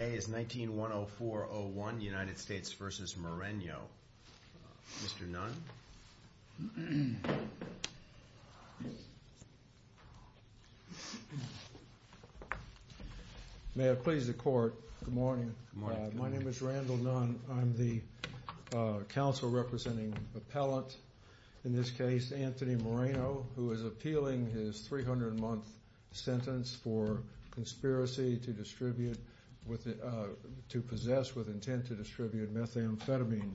Today is 19-104-01, United States v. Moreno. Mr. Nunn? May it please the Court, good morning. My name is Randall Nunn. I'm the counsel representing appellant in this case, Anthony Moreno, who is appealing his 300-month sentence for conspiracy to possess with intent to distribute methamphetamine.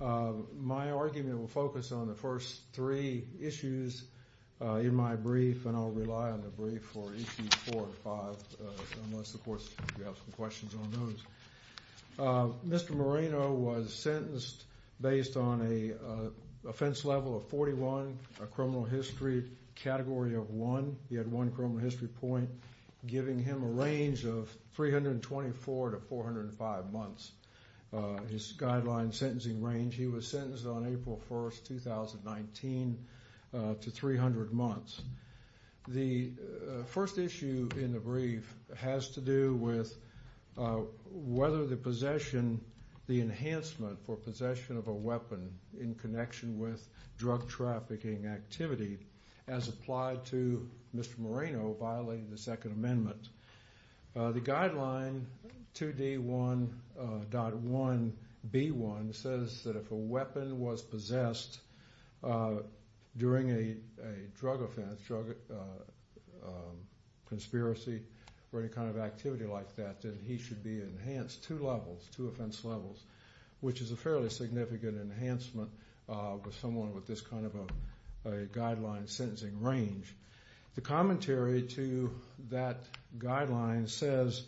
My argument will focus on the first three issues in my brief, and I'll rely on the brief for issues 4 and 5, unless the Court has questions on those. Mr. Moreno was sentenced based on an offense level of 41, a criminal history category of 1. He had one criminal history point, giving him a range of 324 to 405 months. His guideline sentencing range, he was sentenced on April 1, 2019, to 300 months. The first issue in the brief has to do with whether the possession, the enhancement for possession of a weapon in connection with drug trafficking activity as applied to Mr. Moreno violating the Second Amendment. The guideline, 2D1.1b1, says that if a weapon was possessed during a drug offense, drug conspiracy, or any kind of activity like that, that he should be enhanced two levels, two offense levels, which is a fairly significant enhancement for someone with this kind of a guideline sentencing range. The commentary to that guideline says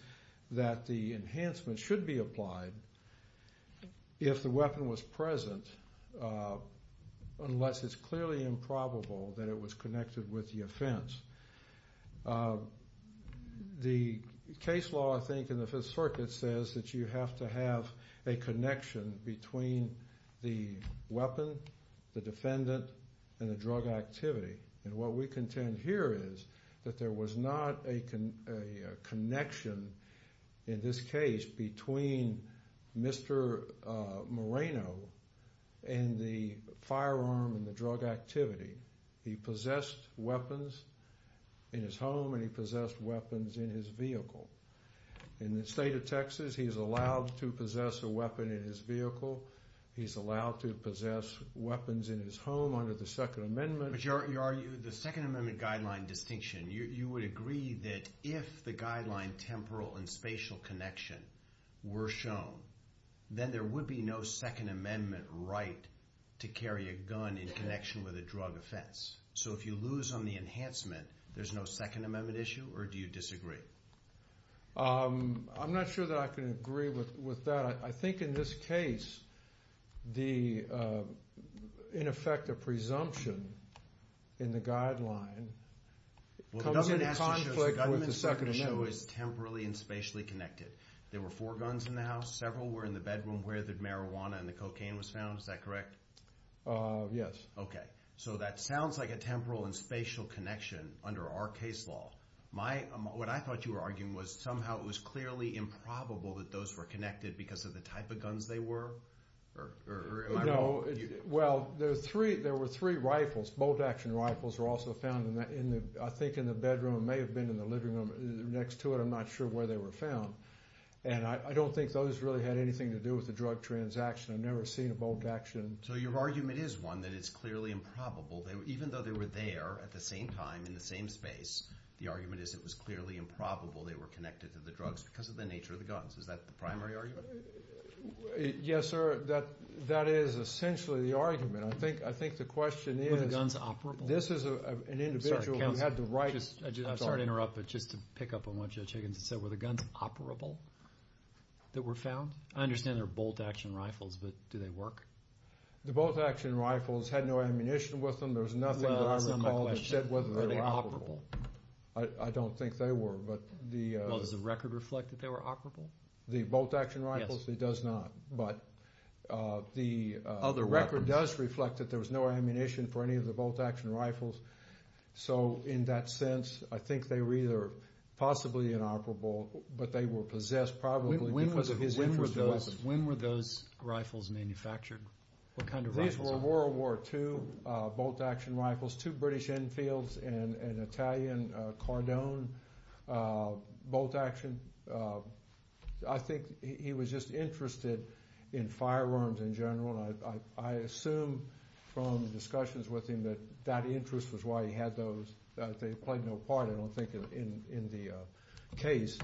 that the enhancement should be applied if the weapon was present, unless it's clearly improbable that it was connected with the offense. The case law, I think, in the Fifth Circuit says that you have to have a connection between the weapon, the defendant, and the drug activity. What we contend here is that there was not a connection, in this case, between Mr. Moreno and the firearm and the drug activity. He possessed weapons in his home and he possessed weapons in his vehicle. In the state of Texas, he is allowed to possess a weapon in his vehicle. He's allowed to possess weapons in his home under the Second Amendment. But you argue the Second Amendment guideline distinction. You would agree that if the to carry a gun in connection with a drug offense. So, if you lose on the enhancement, there's no Second Amendment issue, or do you disagree? I'm not sure that I can agree with that. I think in this case, in effect, a presumption in the guideline comes into conflict with the Second Amendment. The government has to show it's temporally and spatially connected. There were four guns in the was found, is that correct? Yes. Okay. So, that sounds like a temporal and spatial connection under our case law. What I thought you were arguing was somehow it was clearly improbable that those were connected because of the type of guns they were? No. Well, there were three rifles. Both action rifles were also found, I think, in the bedroom. It may have been in the living room next to it. I'm not sure where they were found. I don't think those really had anything to do with the drug transaction. I've never seen a bold action. So, your argument is, one, that it's clearly improbable. Even though they were there at the same time, in the same space, the argument is it was clearly improbable they were connected to the drugs because of the nature of the guns. Is that the primary argument? Yes, sir. That is essentially the argument. I think the question is, this is an individual who had the right... I'm sorry to interrupt, but just to pick up on what Judge Higgins said, were the guns operable that were found? I understand they're bolt-action rifles, but do they work? The bolt-action rifles had no ammunition with them. There's nothing that I recall that said Well, that's not my question. Are they operable? I don't think they were, but the... Well, does the record reflect that they were operable? The bolt-action rifles? Yes. It does not, but the record does reflect that there was no ammunition for any of the bolt-action When were those rifles manufactured? What kind of rifles were they? These were World War II bolt-action rifles. Two British Enfields and an Italian Cardone bolt-action. I think he was just interested in firearms in general. I assume from discussions with him that that interest was why he had those. They played no part, I don't think, in the case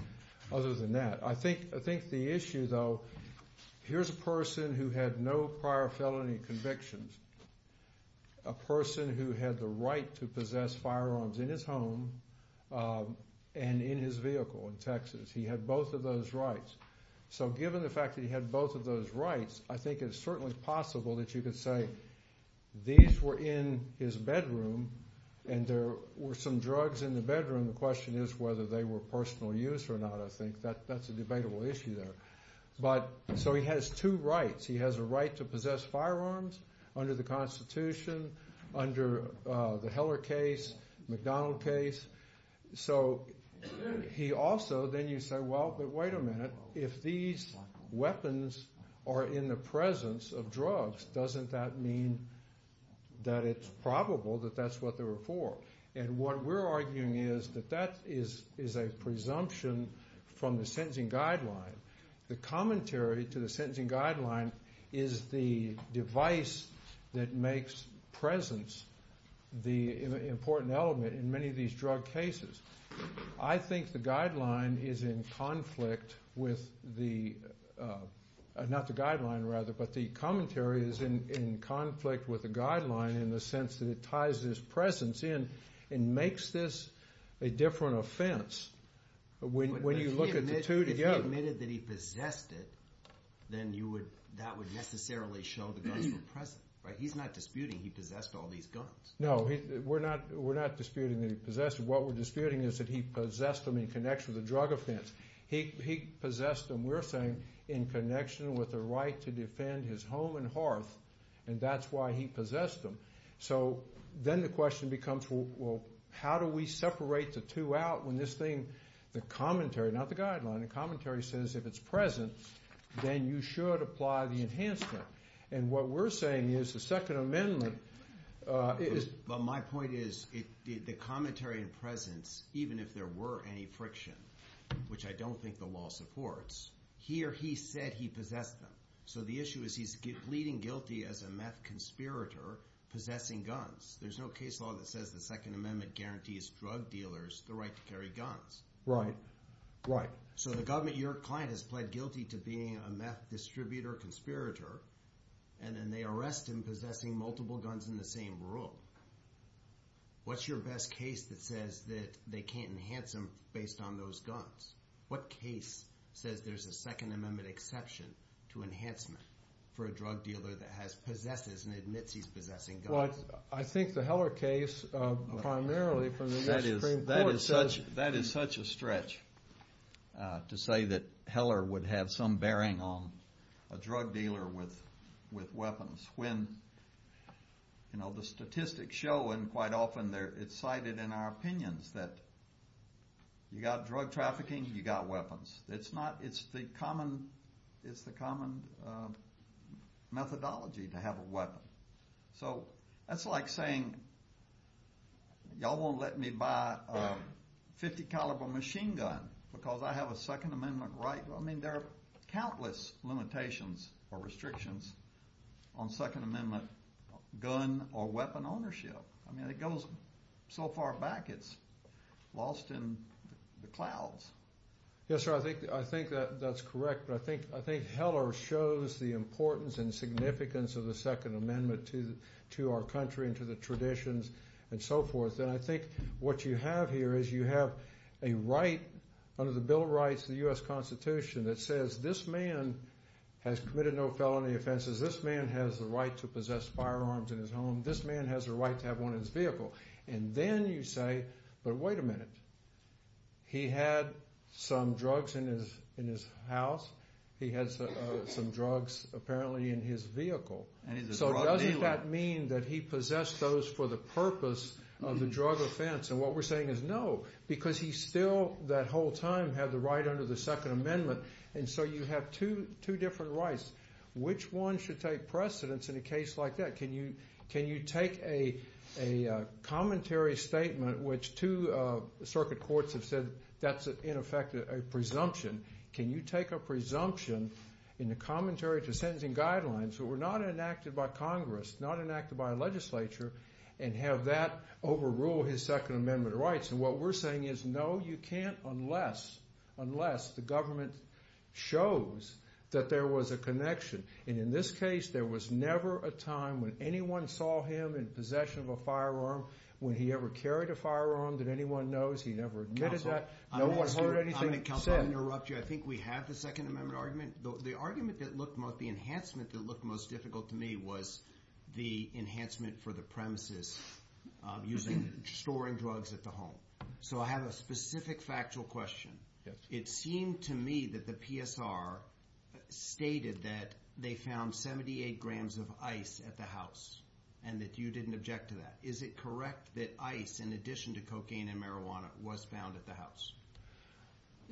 other than that. I think the issue, though, here's a person who had no prior felony convictions, a person who had the right to possess firearms in his home and in his vehicle in Texas. He had both of those rights. So given the fact that he had both of those rights, I think it's certainly possible that you could say these were in his bedroom and there were some drugs in the bedroom. The question is whether they were personal use or not, I think. That's a debatable issue there. So he has two rights. He has a right to possess firearms under the Constitution, under the Heller case, McDonald case. So he also, then you say, well, but wait a minute. If these weapons are in the presence of drugs, doesn't that mean that it's probable that that's what they were for? And what we're arguing is that that is a presumption from the sentencing guideline. The commentary to the sentencing guideline is the device that makes presence the important element in many of these drug cases. I think the guideline is in conflict with the, not the guideline rather, but the commentary is in conflict with the guideline in the sense that it ties this presence in and makes this a different offense when you look at the two together. But if he admitted that he possessed it, then that would necessarily show the guns were present. He's not disputing he possessed all these guns. No, we're not disputing that he possessed them. What we're disputing is that he possessed them in connection with the drug offense. He possessed them, we're saying, in connection with the right to defend his home and hearth, and that's why he possessed them. So then the question becomes, well, how do we separate the two out when this thing, the commentary, not the guideline, the commentary says if it's present, then you should apply the enhancement. And what we're saying is the Second Amendment is... But my point is the commentary and presence, even if there were any friction, which I don't think the law supports, he or he said he possessed them. So the issue is he's pleading guilty as a meth conspirator possessing guns. There's no case law that says the Second Amendment guarantees drug dealers the right to carry guns. Right, right. So the government, your client has pled guilty to being a meth distributor, conspirator, and then they arrest him possessing multiple guns in the same room. What's your best case that says that they can't enhance him based on those guns? What case says there's a Second Amendment exception to enhancement for a drug dealer that possesses and admits he's possessing guns? Well, I think the Heller case primarily from the U.S. Supreme Court says... When the statistics show, and quite often it's cited in our opinions, that you've got drug trafficking, you've got weapons. It's the common methodology to have a weapon. So that's like saying y'all won't let me buy a .50 caliber machine gun because I have a Second Amendment right. I mean, there are countless limitations or restrictions on Second Amendment gun or weapon ownership. I mean, it goes so far back it's lost in the clouds. Yes, sir, I think that's correct. But I think Heller shows the importance and significance of the Second Amendment to our country and to the traditions and so forth. And I think what you have here is you have a right, under the Bill of Rights, the U.S. Constitution, that says this man has committed no felony offenses. This man has the right to possess firearms in his home. This man has the right to have one in his vehicle. And then you say, but wait a minute. He had some drugs in his house. He had some drugs apparently in his vehicle. So doesn't that mean that he possessed those for the purpose of the drug offense? And what we're saying is no, because he still, that whole time, had the right under the Second Amendment. And so you have two different rights. Which one should take precedence in a case like that? Can you take a commentary statement, which two circuit courts have said that's, in effect, a presumption. Can you take a presumption in the commentary to sentencing guidelines that were not enacted by Congress, not enacted by a legislature, and have that overrule his Second Amendment rights? And what we're saying is no, you can't unless the government shows that there was a connection. And in this case, there was never a time when anyone saw him in possession of a firearm, when he ever carried a firearm that anyone knows. He never admitted that. No one heard anything said. I'm going to interrupt you. I think we have the Second Amendment argument. The argument that looked most, the enhancement that looked most difficult to me was the enhancement for the premises using storing drugs at the home. So I have a specific factual question. It seemed to me that the PSR stated that they found 78 grams of ice at the house and that you didn't object to that. Is it correct that ice, in addition to cocaine and marijuana, was found at the house?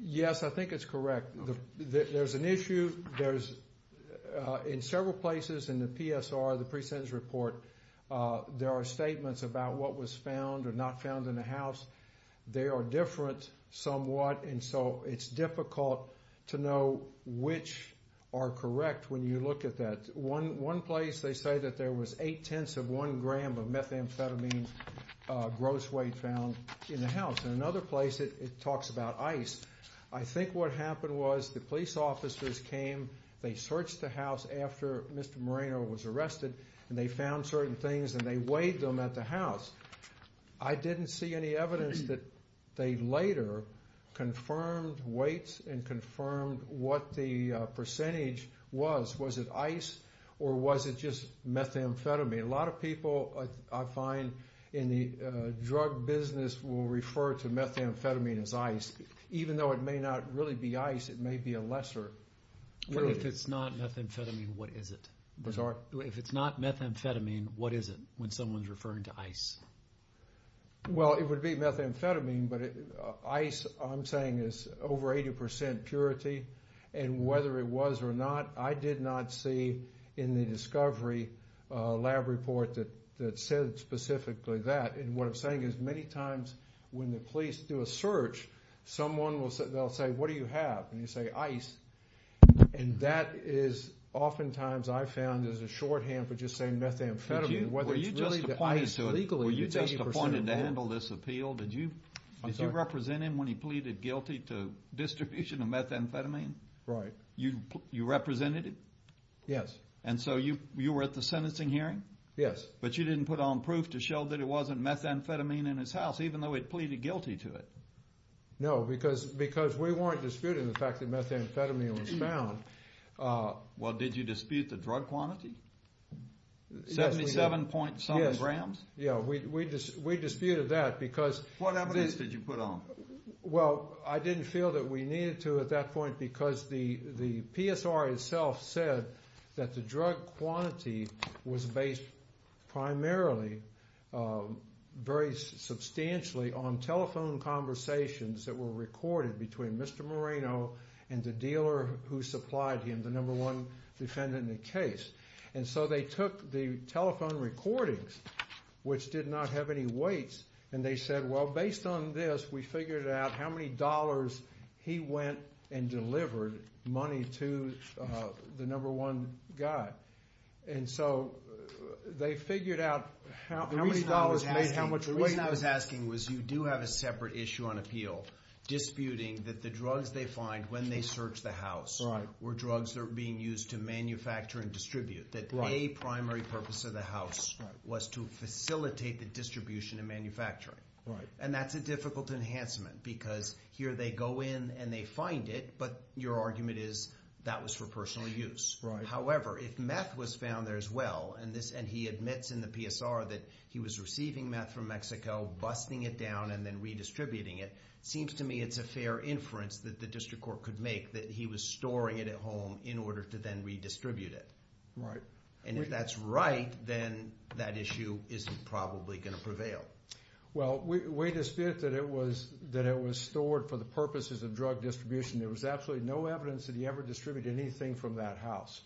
Yes, I think it's correct. There's an issue. In several places in the PSR, the presentence report, there are statements about what was found or not found in the house. They are different somewhat, and so it's difficult to know which are correct when you look at that. One place, they say that there was eight-tenths of one gram of methamphetamine gross weight found in the house. In another place, it talks about ice. I think what happened was the police officers came, they searched the house after Mr. Moreno was arrested, and they found certain things and they weighed them at the house. I didn't see any evidence that they later confirmed weights and confirmed what the percentage was. Was it ice or was it just methamphetamine? A lot of people, I find, in the drug business will refer to methamphetamine as ice, even though it may not really be ice, it may be a lesser purity. If it's not methamphetamine, what is it? I'm sorry? If it's not methamphetamine, what is it when someone's referring to ice? Well, it would be methamphetamine, but ice, I'm saying, is over 80% purity, and whether it was or not, I did not see in the discovery lab report that said specifically that. And what I'm saying is many times when the police do a search, someone will say, what do you have? And you say ice. And that is oftentimes, I've found, is a shorthand for just saying methamphetamine. Were you just appointed to handle this appeal? Did you represent him when he pleaded guilty to distribution of methamphetamine? Right. You represented him? Yes. And so you were at the sentencing hearing? Yes. But you didn't put on proof to show that it wasn't methamphetamine in his house, even though he had pleaded guilty to it? No, because we weren't disputing the fact that methamphetamine was found. Well, did you dispute the drug quantity? 77.7 grams? Yes. Yeah, we disputed that because— What evidence did you put on? Well, I didn't feel that we needed to at that point because the PSR itself said that the drug quantity was based primarily, very substantially, on telephone conversations that were recorded between Mr. Moreno and the dealer who supplied him, the number one defendant in the case. And so they took the telephone recordings, which did not have any weights, and they said, well, based on this, we figured out how many dollars he went and delivered money to the number one guy. And so they figured out how many dollars made how much weight. The reason I was asking was you do have a separate issue on appeal, disputing that the drugs they find when they search the house were drugs that were being used to manufacture and distribute, that a primary purpose of the house was to facilitate the distribution and manufacturing. Right. And that's a difficult enhancement because here they go in and they find it, but your argument is that was for personal use. Right. However, if meth was found there as well, and he admits in the PSR that he was receiving meth from Mexico, busting it down, and then redistributing it, it seems to me it's a fair inference that the district court could make that he was storing it at home in order to then redistribute it. And if that's right, then that issue isn't probably going to prevail. Well, we dispute that it was stored for the purposes of drug distribution. There was absolutely no evidence that he ever distributed anything from that house.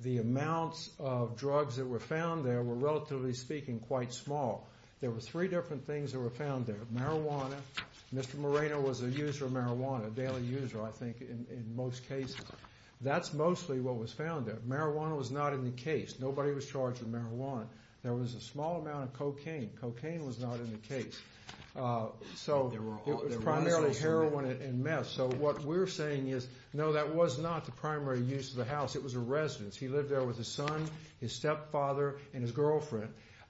The amounts of drugs that were found there were, relatively speaking, quite small. There were three different things that were found there. Marijuana. Mr. Moreno was a user of marijuana, a daily user, I think, in most cases. That's mostly what was found there. Marijuana was not in the case. Nobody was charged with marijuana. There was a small amount of cocaine. Cocaine was not in the case. So it was primarily heroin and meth. So what we're saying is, no, that was not the primary use of the house. It was a residence. He lived there with his son, his stepfather, and his girlfriend.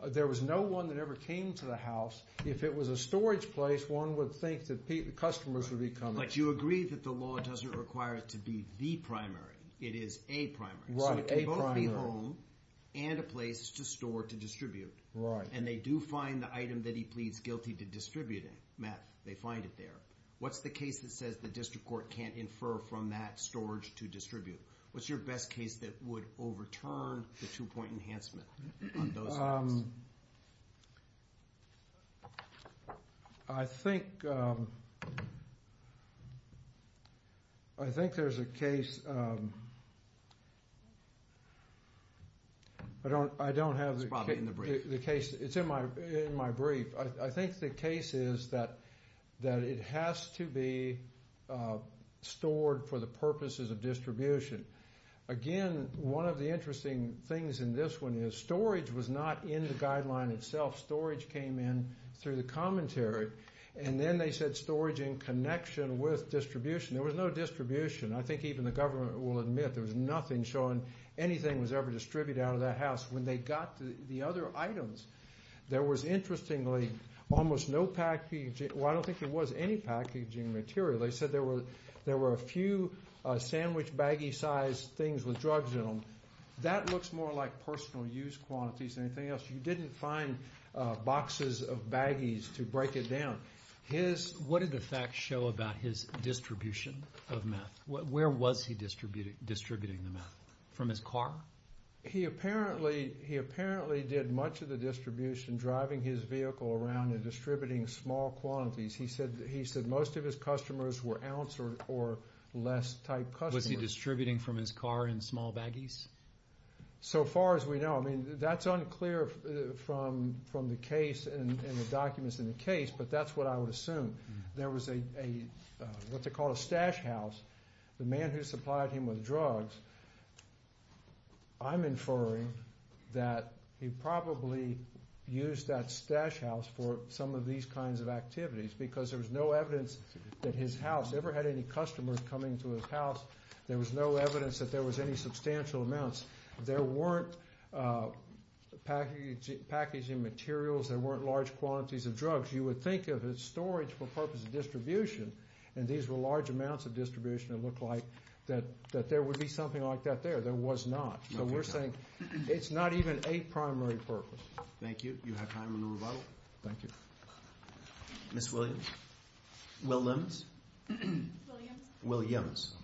There was no one that ever came to the house. If it was a storage place, one would think that customers would be coming. But you agree that the law doesn't require it to be the primary. It is a primary. So it could both be home and a place to store, to distribute. Right. And they do find the item that he pleads guilty to distributing meth. They find it there. What's the case that says the district court can't infer from that storage to distribute? What's your best case that would overturn the two-point enhancement on those cases? I think there's a case. I don't have the case. It's in my brief. I think the case is that it has to be stored for the purposes of distribution. Again, one of the interesting things in this one is storage was not in the guideline itself. Storage came in through the commentary. And then they said storage in connection with distribution. There was no distribution. I think even the government will admit there was nothing showing anything was ever distributed out of that house. When they got the other items, there was interestingly almost no packaging. Well, I don't think there was any packaging material. They said there were a few sandwich baggie-sized things with drugs in them. That looks more like personal use quantities than anything else. You didn't find boxes of baggies to break it down. What did the facts show about his distribution of meth? Where was he distributing the meth? From his car? He apparently did much of the distribution driving his vehicle around and distributing small quantities. He said most of his customers were ounce or less type customers. Was he distributing from his car in small baggies? So far as we know. That's unclear from the case and the documents in the case, but that's what I would assume. There was what they call a stash house. The man who supplied him with drugs, I'm inferring that he probably used that stash house for some of these kinds of activities because there was no evidence that his house ever had any customers coming to his house. There was no evidence that there was any substantial amounts. There weren't packaging materials. There weren't large quantities of drugs. You would think of it as storage for the purpose of distribution, and these were large amounts of distribution. It looked like that there would be something like that there. There was not. So we're saying it's not even a primary purpose. Thank you. You have time to move on. Thank you. Ms. Williams? Will Limmons? Williams. Williams.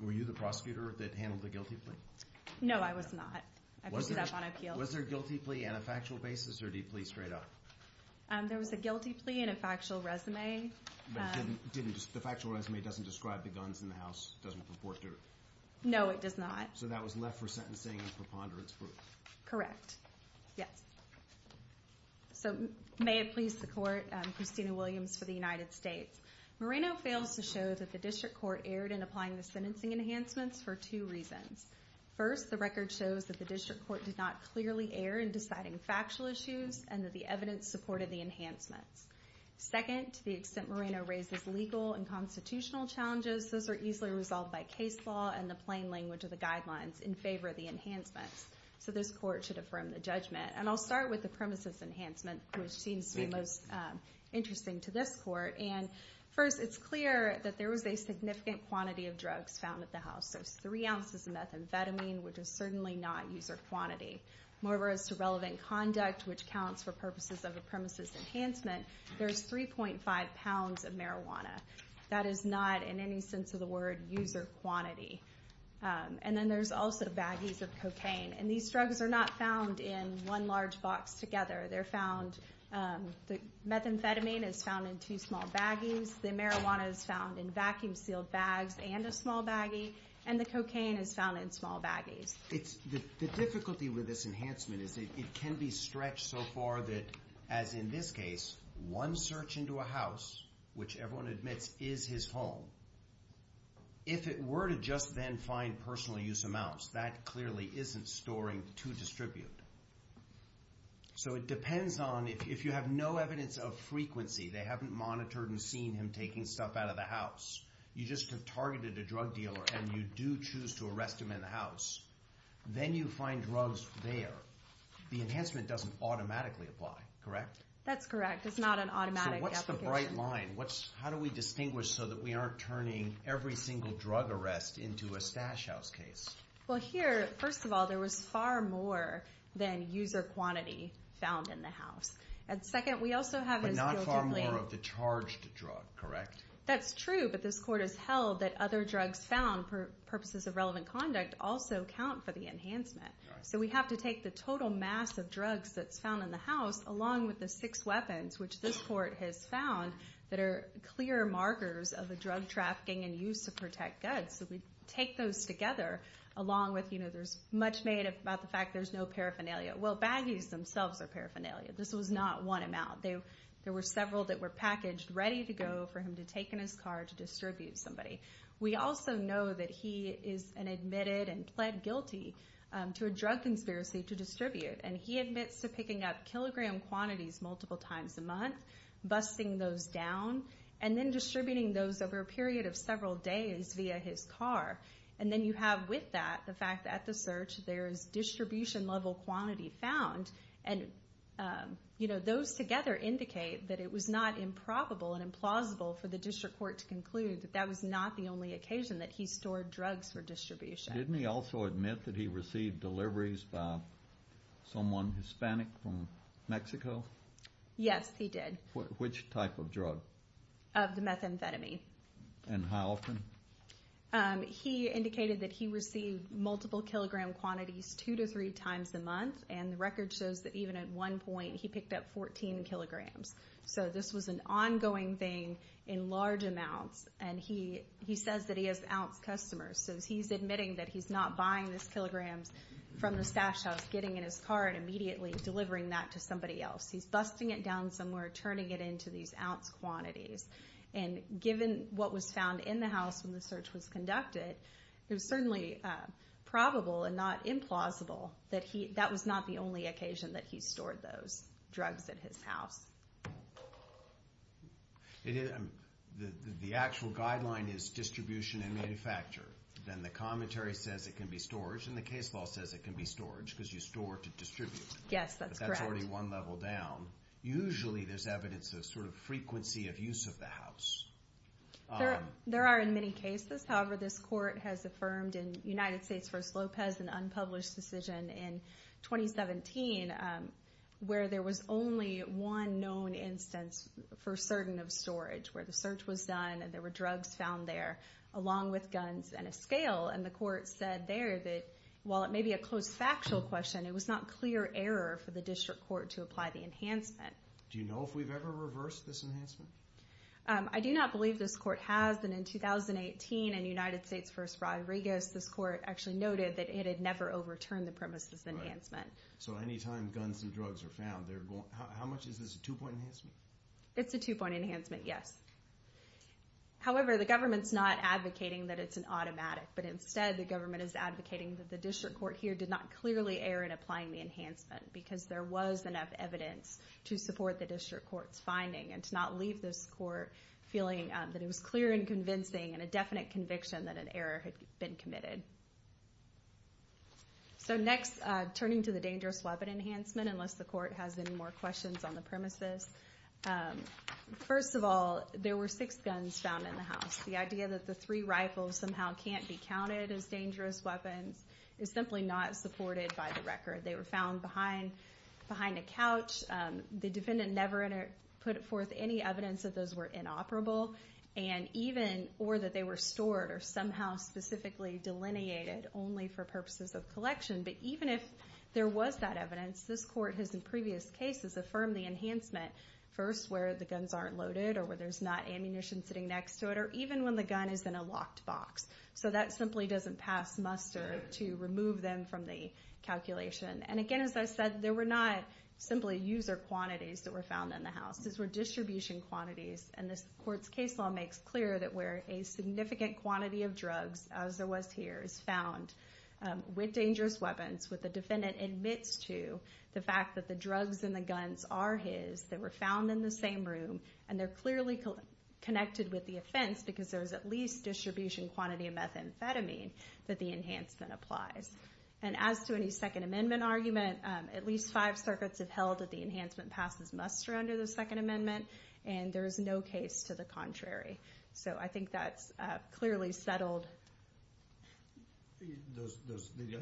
Were you the prosecutor that handled the guilty plea? No, I was not. I put it up on appeal. Was there a guilty plea and a factual basis, or did he plea straight up? There was a guilty plea and a factual resume. The factual resume doesn't describe the guns in the house? It doesn't purport to? No, it does not. So that was left for sentencing and preponderance? Correct. Yes. So may it please the court, Christina Williams for the United States. Moreno fails to show that the district court erred in applying the sentencing enhancements for two reasons. First, the record shows that the district court did not clearly err in deciding factual issues and that the evidence supported the enhancements. Second, to the extent Moreno raises legal and constitutional challenges, those are easily resolved by case law and the plain language of the guidelines in favor of the enhancements. So this court should affirm the judgment. And I'll start with the premises enhancement, which seems to be most interesting to this court. And first, it's clear that there was a significant quantity of drugs found at the house. There's three ounces of methamphetamine, which is certainly not user quantity. Moreover, as to relevant conduct, which counts for purposes of a premises enhancement, there's 3.5 pounds of marijuana. That is not in any sense of the word user quantity. And then there's also baggies of cocaine. And these drugs are not found in one large box together. They're found, the methamphetamine is found in two small baggies, the marijuana is found in vacuum-sealed bags and a small baggie, and the cocaine is found in small baggies. The difficulty with this enhancement is it can be stretched so far that, as in this case, one search into a house, which everyone admits is his home, if it were to just then find personal use amounts, that clearly isn't storing to distribute. So it depends on if you have no evidence of frequency, they haven't monitored and seen him taking stuff out of the house, you just have targeted a drug dealer and you do choose to arrest him in the house, then you find drugs there. The enhancement doesn't automatically apply, correct? That's correct. It's not an automatic application. So what's the bright line? How do we distinguish so that we aren't turning every single drug arrest into a stash house case? Well, here, first of all, there was far more than user quantity found in the house. And second, we also have this guilty plea. But not far more of the charged drug, correct? That's true, but this court has held that other drugs found for purposes of relevant conduct also count for the enhancement. So we have to take the total mass of drugs that's found in the house, along with the six weapons, which this court has found, that are clear markers of the drug trafficking and use to protect goods. So we take those together, along with, you know, there's much made about the fact there's no paraphernalia. Well, baggies themselves are paraphernalia. This was not one amount. There were several that were packaged ready to go for him to take in his car to distribute to somebody. We also know that he is an admitted and pled guilty to a drug conspiracy to distribute. And he admits to picking up kilogram quantities multiple times a month, busting those down, and then distributing those over a period of several days via his car. And then you have with that the fact that at the search there is distribution-level quantity found. And, you know, those together indicate that it was not improbable and implausible for the district court to conclude that that was not the only occasion that he stored drugs for distribution. Didn't he also admit that he received deliveries by someone Hispanic from Mexico? Yes, he did. Which type of drug? Of the methamphetamine. And how often? He indicated that he received multiple kilogram quantities two to three times a month, and the record shows that even at one point he picked up 14 kilograms. So this was an ongoing thing in large amounts, and he says that he has ounce customers. So he's admitting that he's not buying those kilograms from the stash house, getting in his car and immediately delivering that to somebody else. He's busting it down somewhere, turning it into these ounce quantities. And given what was found in the house when the search was conducted, it was certainly probable and not implausible that that was not the only occasion that he stored those drugs in his house. The actual guideline is distribution and manufacture. Then the commentary says it can be storage, and the case law says it can be storage because you store to distribute. Yes, that's correct. But that's already one level down. Usually there's evidence of sort of frequency of use of the house. There are in many cases. However, this court has affirmed in United States v. Lopez an unpublished decision in 2017 where there was only one known instance for certain of storage, where the search was done and there were drugs found there along with guns and a scale. And the court said there that while it may be a close factual question, it was not clear error for the district court to apply the enhancement. Do you know if we've ever reversed this enhancement? I do not believe this court has. And in 2018 in United States v. Rodriguez, this court actually noted that it had never overturned the premise of this enhancement. So anytime guns and drugs are found, how much is this a two-point enhancement? It's a two-point enhancement, yes. However, the government's not advocating that it's an automatic, but instead the government is advocating that the district court here did not clearly err in applying the enhancement because there was enough evidence to support the district court's finding and to not leave this court feeling that it was clear and convincing and a definite conviction that an error had been committed. So next, turning to the dangerous weapon enhancement, unless the court has any more questions on the premises. First of all, there were six guns found in the house. The idea that the three rifles somehow can't be counted as dangerous weapons is simply not supported by the record. They were found behind a couch. The defendant never put forth any evidence that those were inoperable or that they were stored or somehow specifically delineated only for purposes of collection. But even if there was that evidence, this court has in previous cases affirmed the enhancement first where the guns aren't loaded or where there's not ammunition sitting next to it or even when the gun is in a locked box. So that simply doesn't pass muster to remove them from the calculation. And again, as I said, there were not simply user quantities that were found in the house. These were distribution quantities. And this court's case law makes clear that where a significant quantity of drugs, as there was here, is found with dangerous weapons, what the defendant admits to the fact that the drugs and the guns are his, they were found in the same room, and they're clearly connected with the offense because there's at least distribution quantity of methamphetamine that the enhancement applies. And as to any Second Amendment argument, at least five circuits have held that the enhancement passes muster under the Second Amendment, and there is no case to the contrary. So I think that's clearly settled. I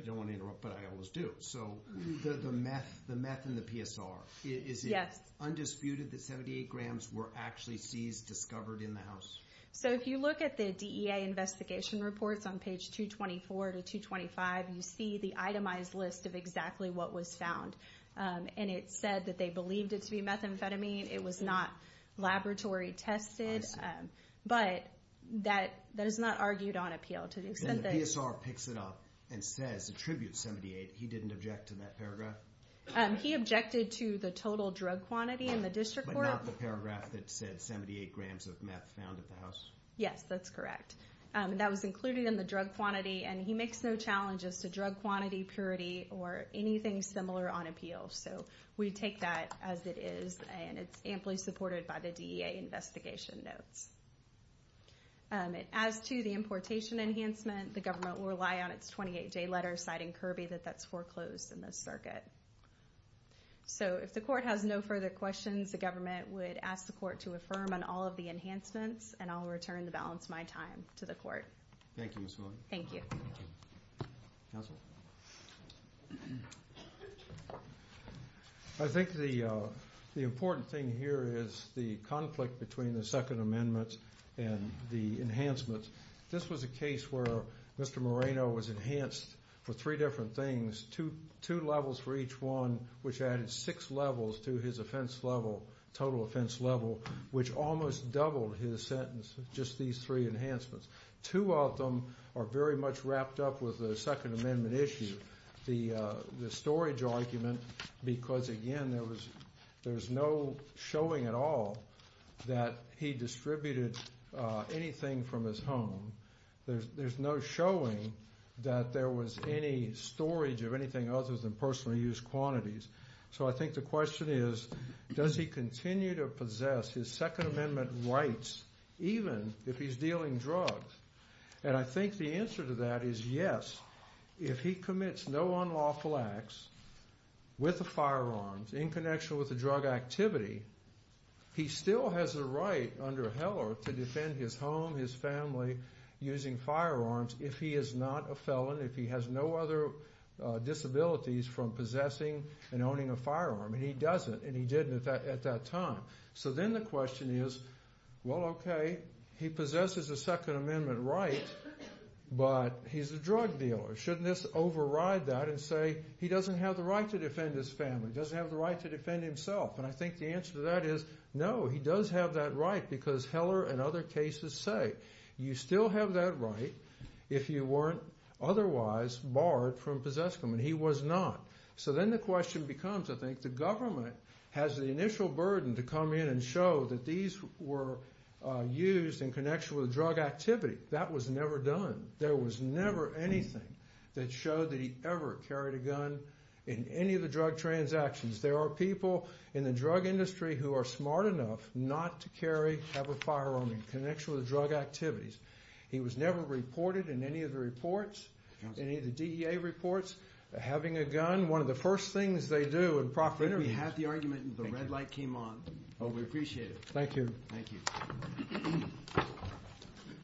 don't want to interrupt, but I always do. So the meth and the PSR, is it undisputed that 78 grams were actually seized, discovered in the house? So if you look at the DEA investigation reports on page 224 to 225, you see the itemized list of exactly what was found. And it said that they believed it to be methamphetamine. It was not laboratory tested. I see. But that is not argued on appeal to the extent that... And the PSR picks it up and says, attributes 78. He didn't object to that paragraph? He objected to the total drug quantity in the district court. But not the paragraph that said 78 grams of meth found at the house? Yes, that's correct. That was included in the drug quantity, and he makes no challenges to drug quantity, purity, or anything similar on appeal. So we take that as it is, and it's amply supported by the DEA investigation notes. As to the importation enhancement, the government will rely on its 28-day letter, citing Kirby that that's foreclosed in this circuit. So if the court has no further questions, the government would ask the court to affirm on all of the enhancements, and I'll return the balance of my time to the court. Thank you, Ms. Mullen. Thank you. Counsel? I think the important thing here is the conflict between the Second Amendment and the enhancements. This was a case where Mr. Moreno was enhanced for three different things, two levels for each one, which added six levels to his offense level, total offense level, which almost doubled his sentence with just these three enhancements. Two of them are very much wrapped up with the Second Amendment issue, the storage argument, because, again, there was no showing at all that he distributed anything from his home. There's no showing that there was any storage of anything other than personal use quantities. So I think the question is, does he continue to possess his Second Amendment rights, even if he's dealing drugs? And I think the answer to that is yes. If he commits no unlawful acts with a firearm, in connection with a drug activity, he still has a right under Heller to defend his home, his family, using firearms if he is not a felon, if he has no other disabilities from possessing and owning a firearm, and he doesn't, and he didn't at that time. So then the question is, well, okay, he possesses a Second Amendment right, but he's a drug dealer. Shouldn't this override that and say he doesn't have the right to defend his family, doesn't have the right to defend himself? And I think the answer to that is no, he does have that right because Heller and other cases say you still have that right if you weren't otherwise barred from possessing them, and he was not. So then the question becomes, I think, if the government has the initial burden to come in and show that these were used in connection with a drug activity, that was never done. There was never anything that showed that he ever carried a gun in any of the drug transactions. There are people in the drug industry who are smart enough not to carry, have a firearm in connection with drug activities. He was never reported in any of the reports, any of the DEA reports, having a gun. One of the first things they do in proper interviews. We had the argument and the red light came on. We appreciate it. Thank you. Thank you.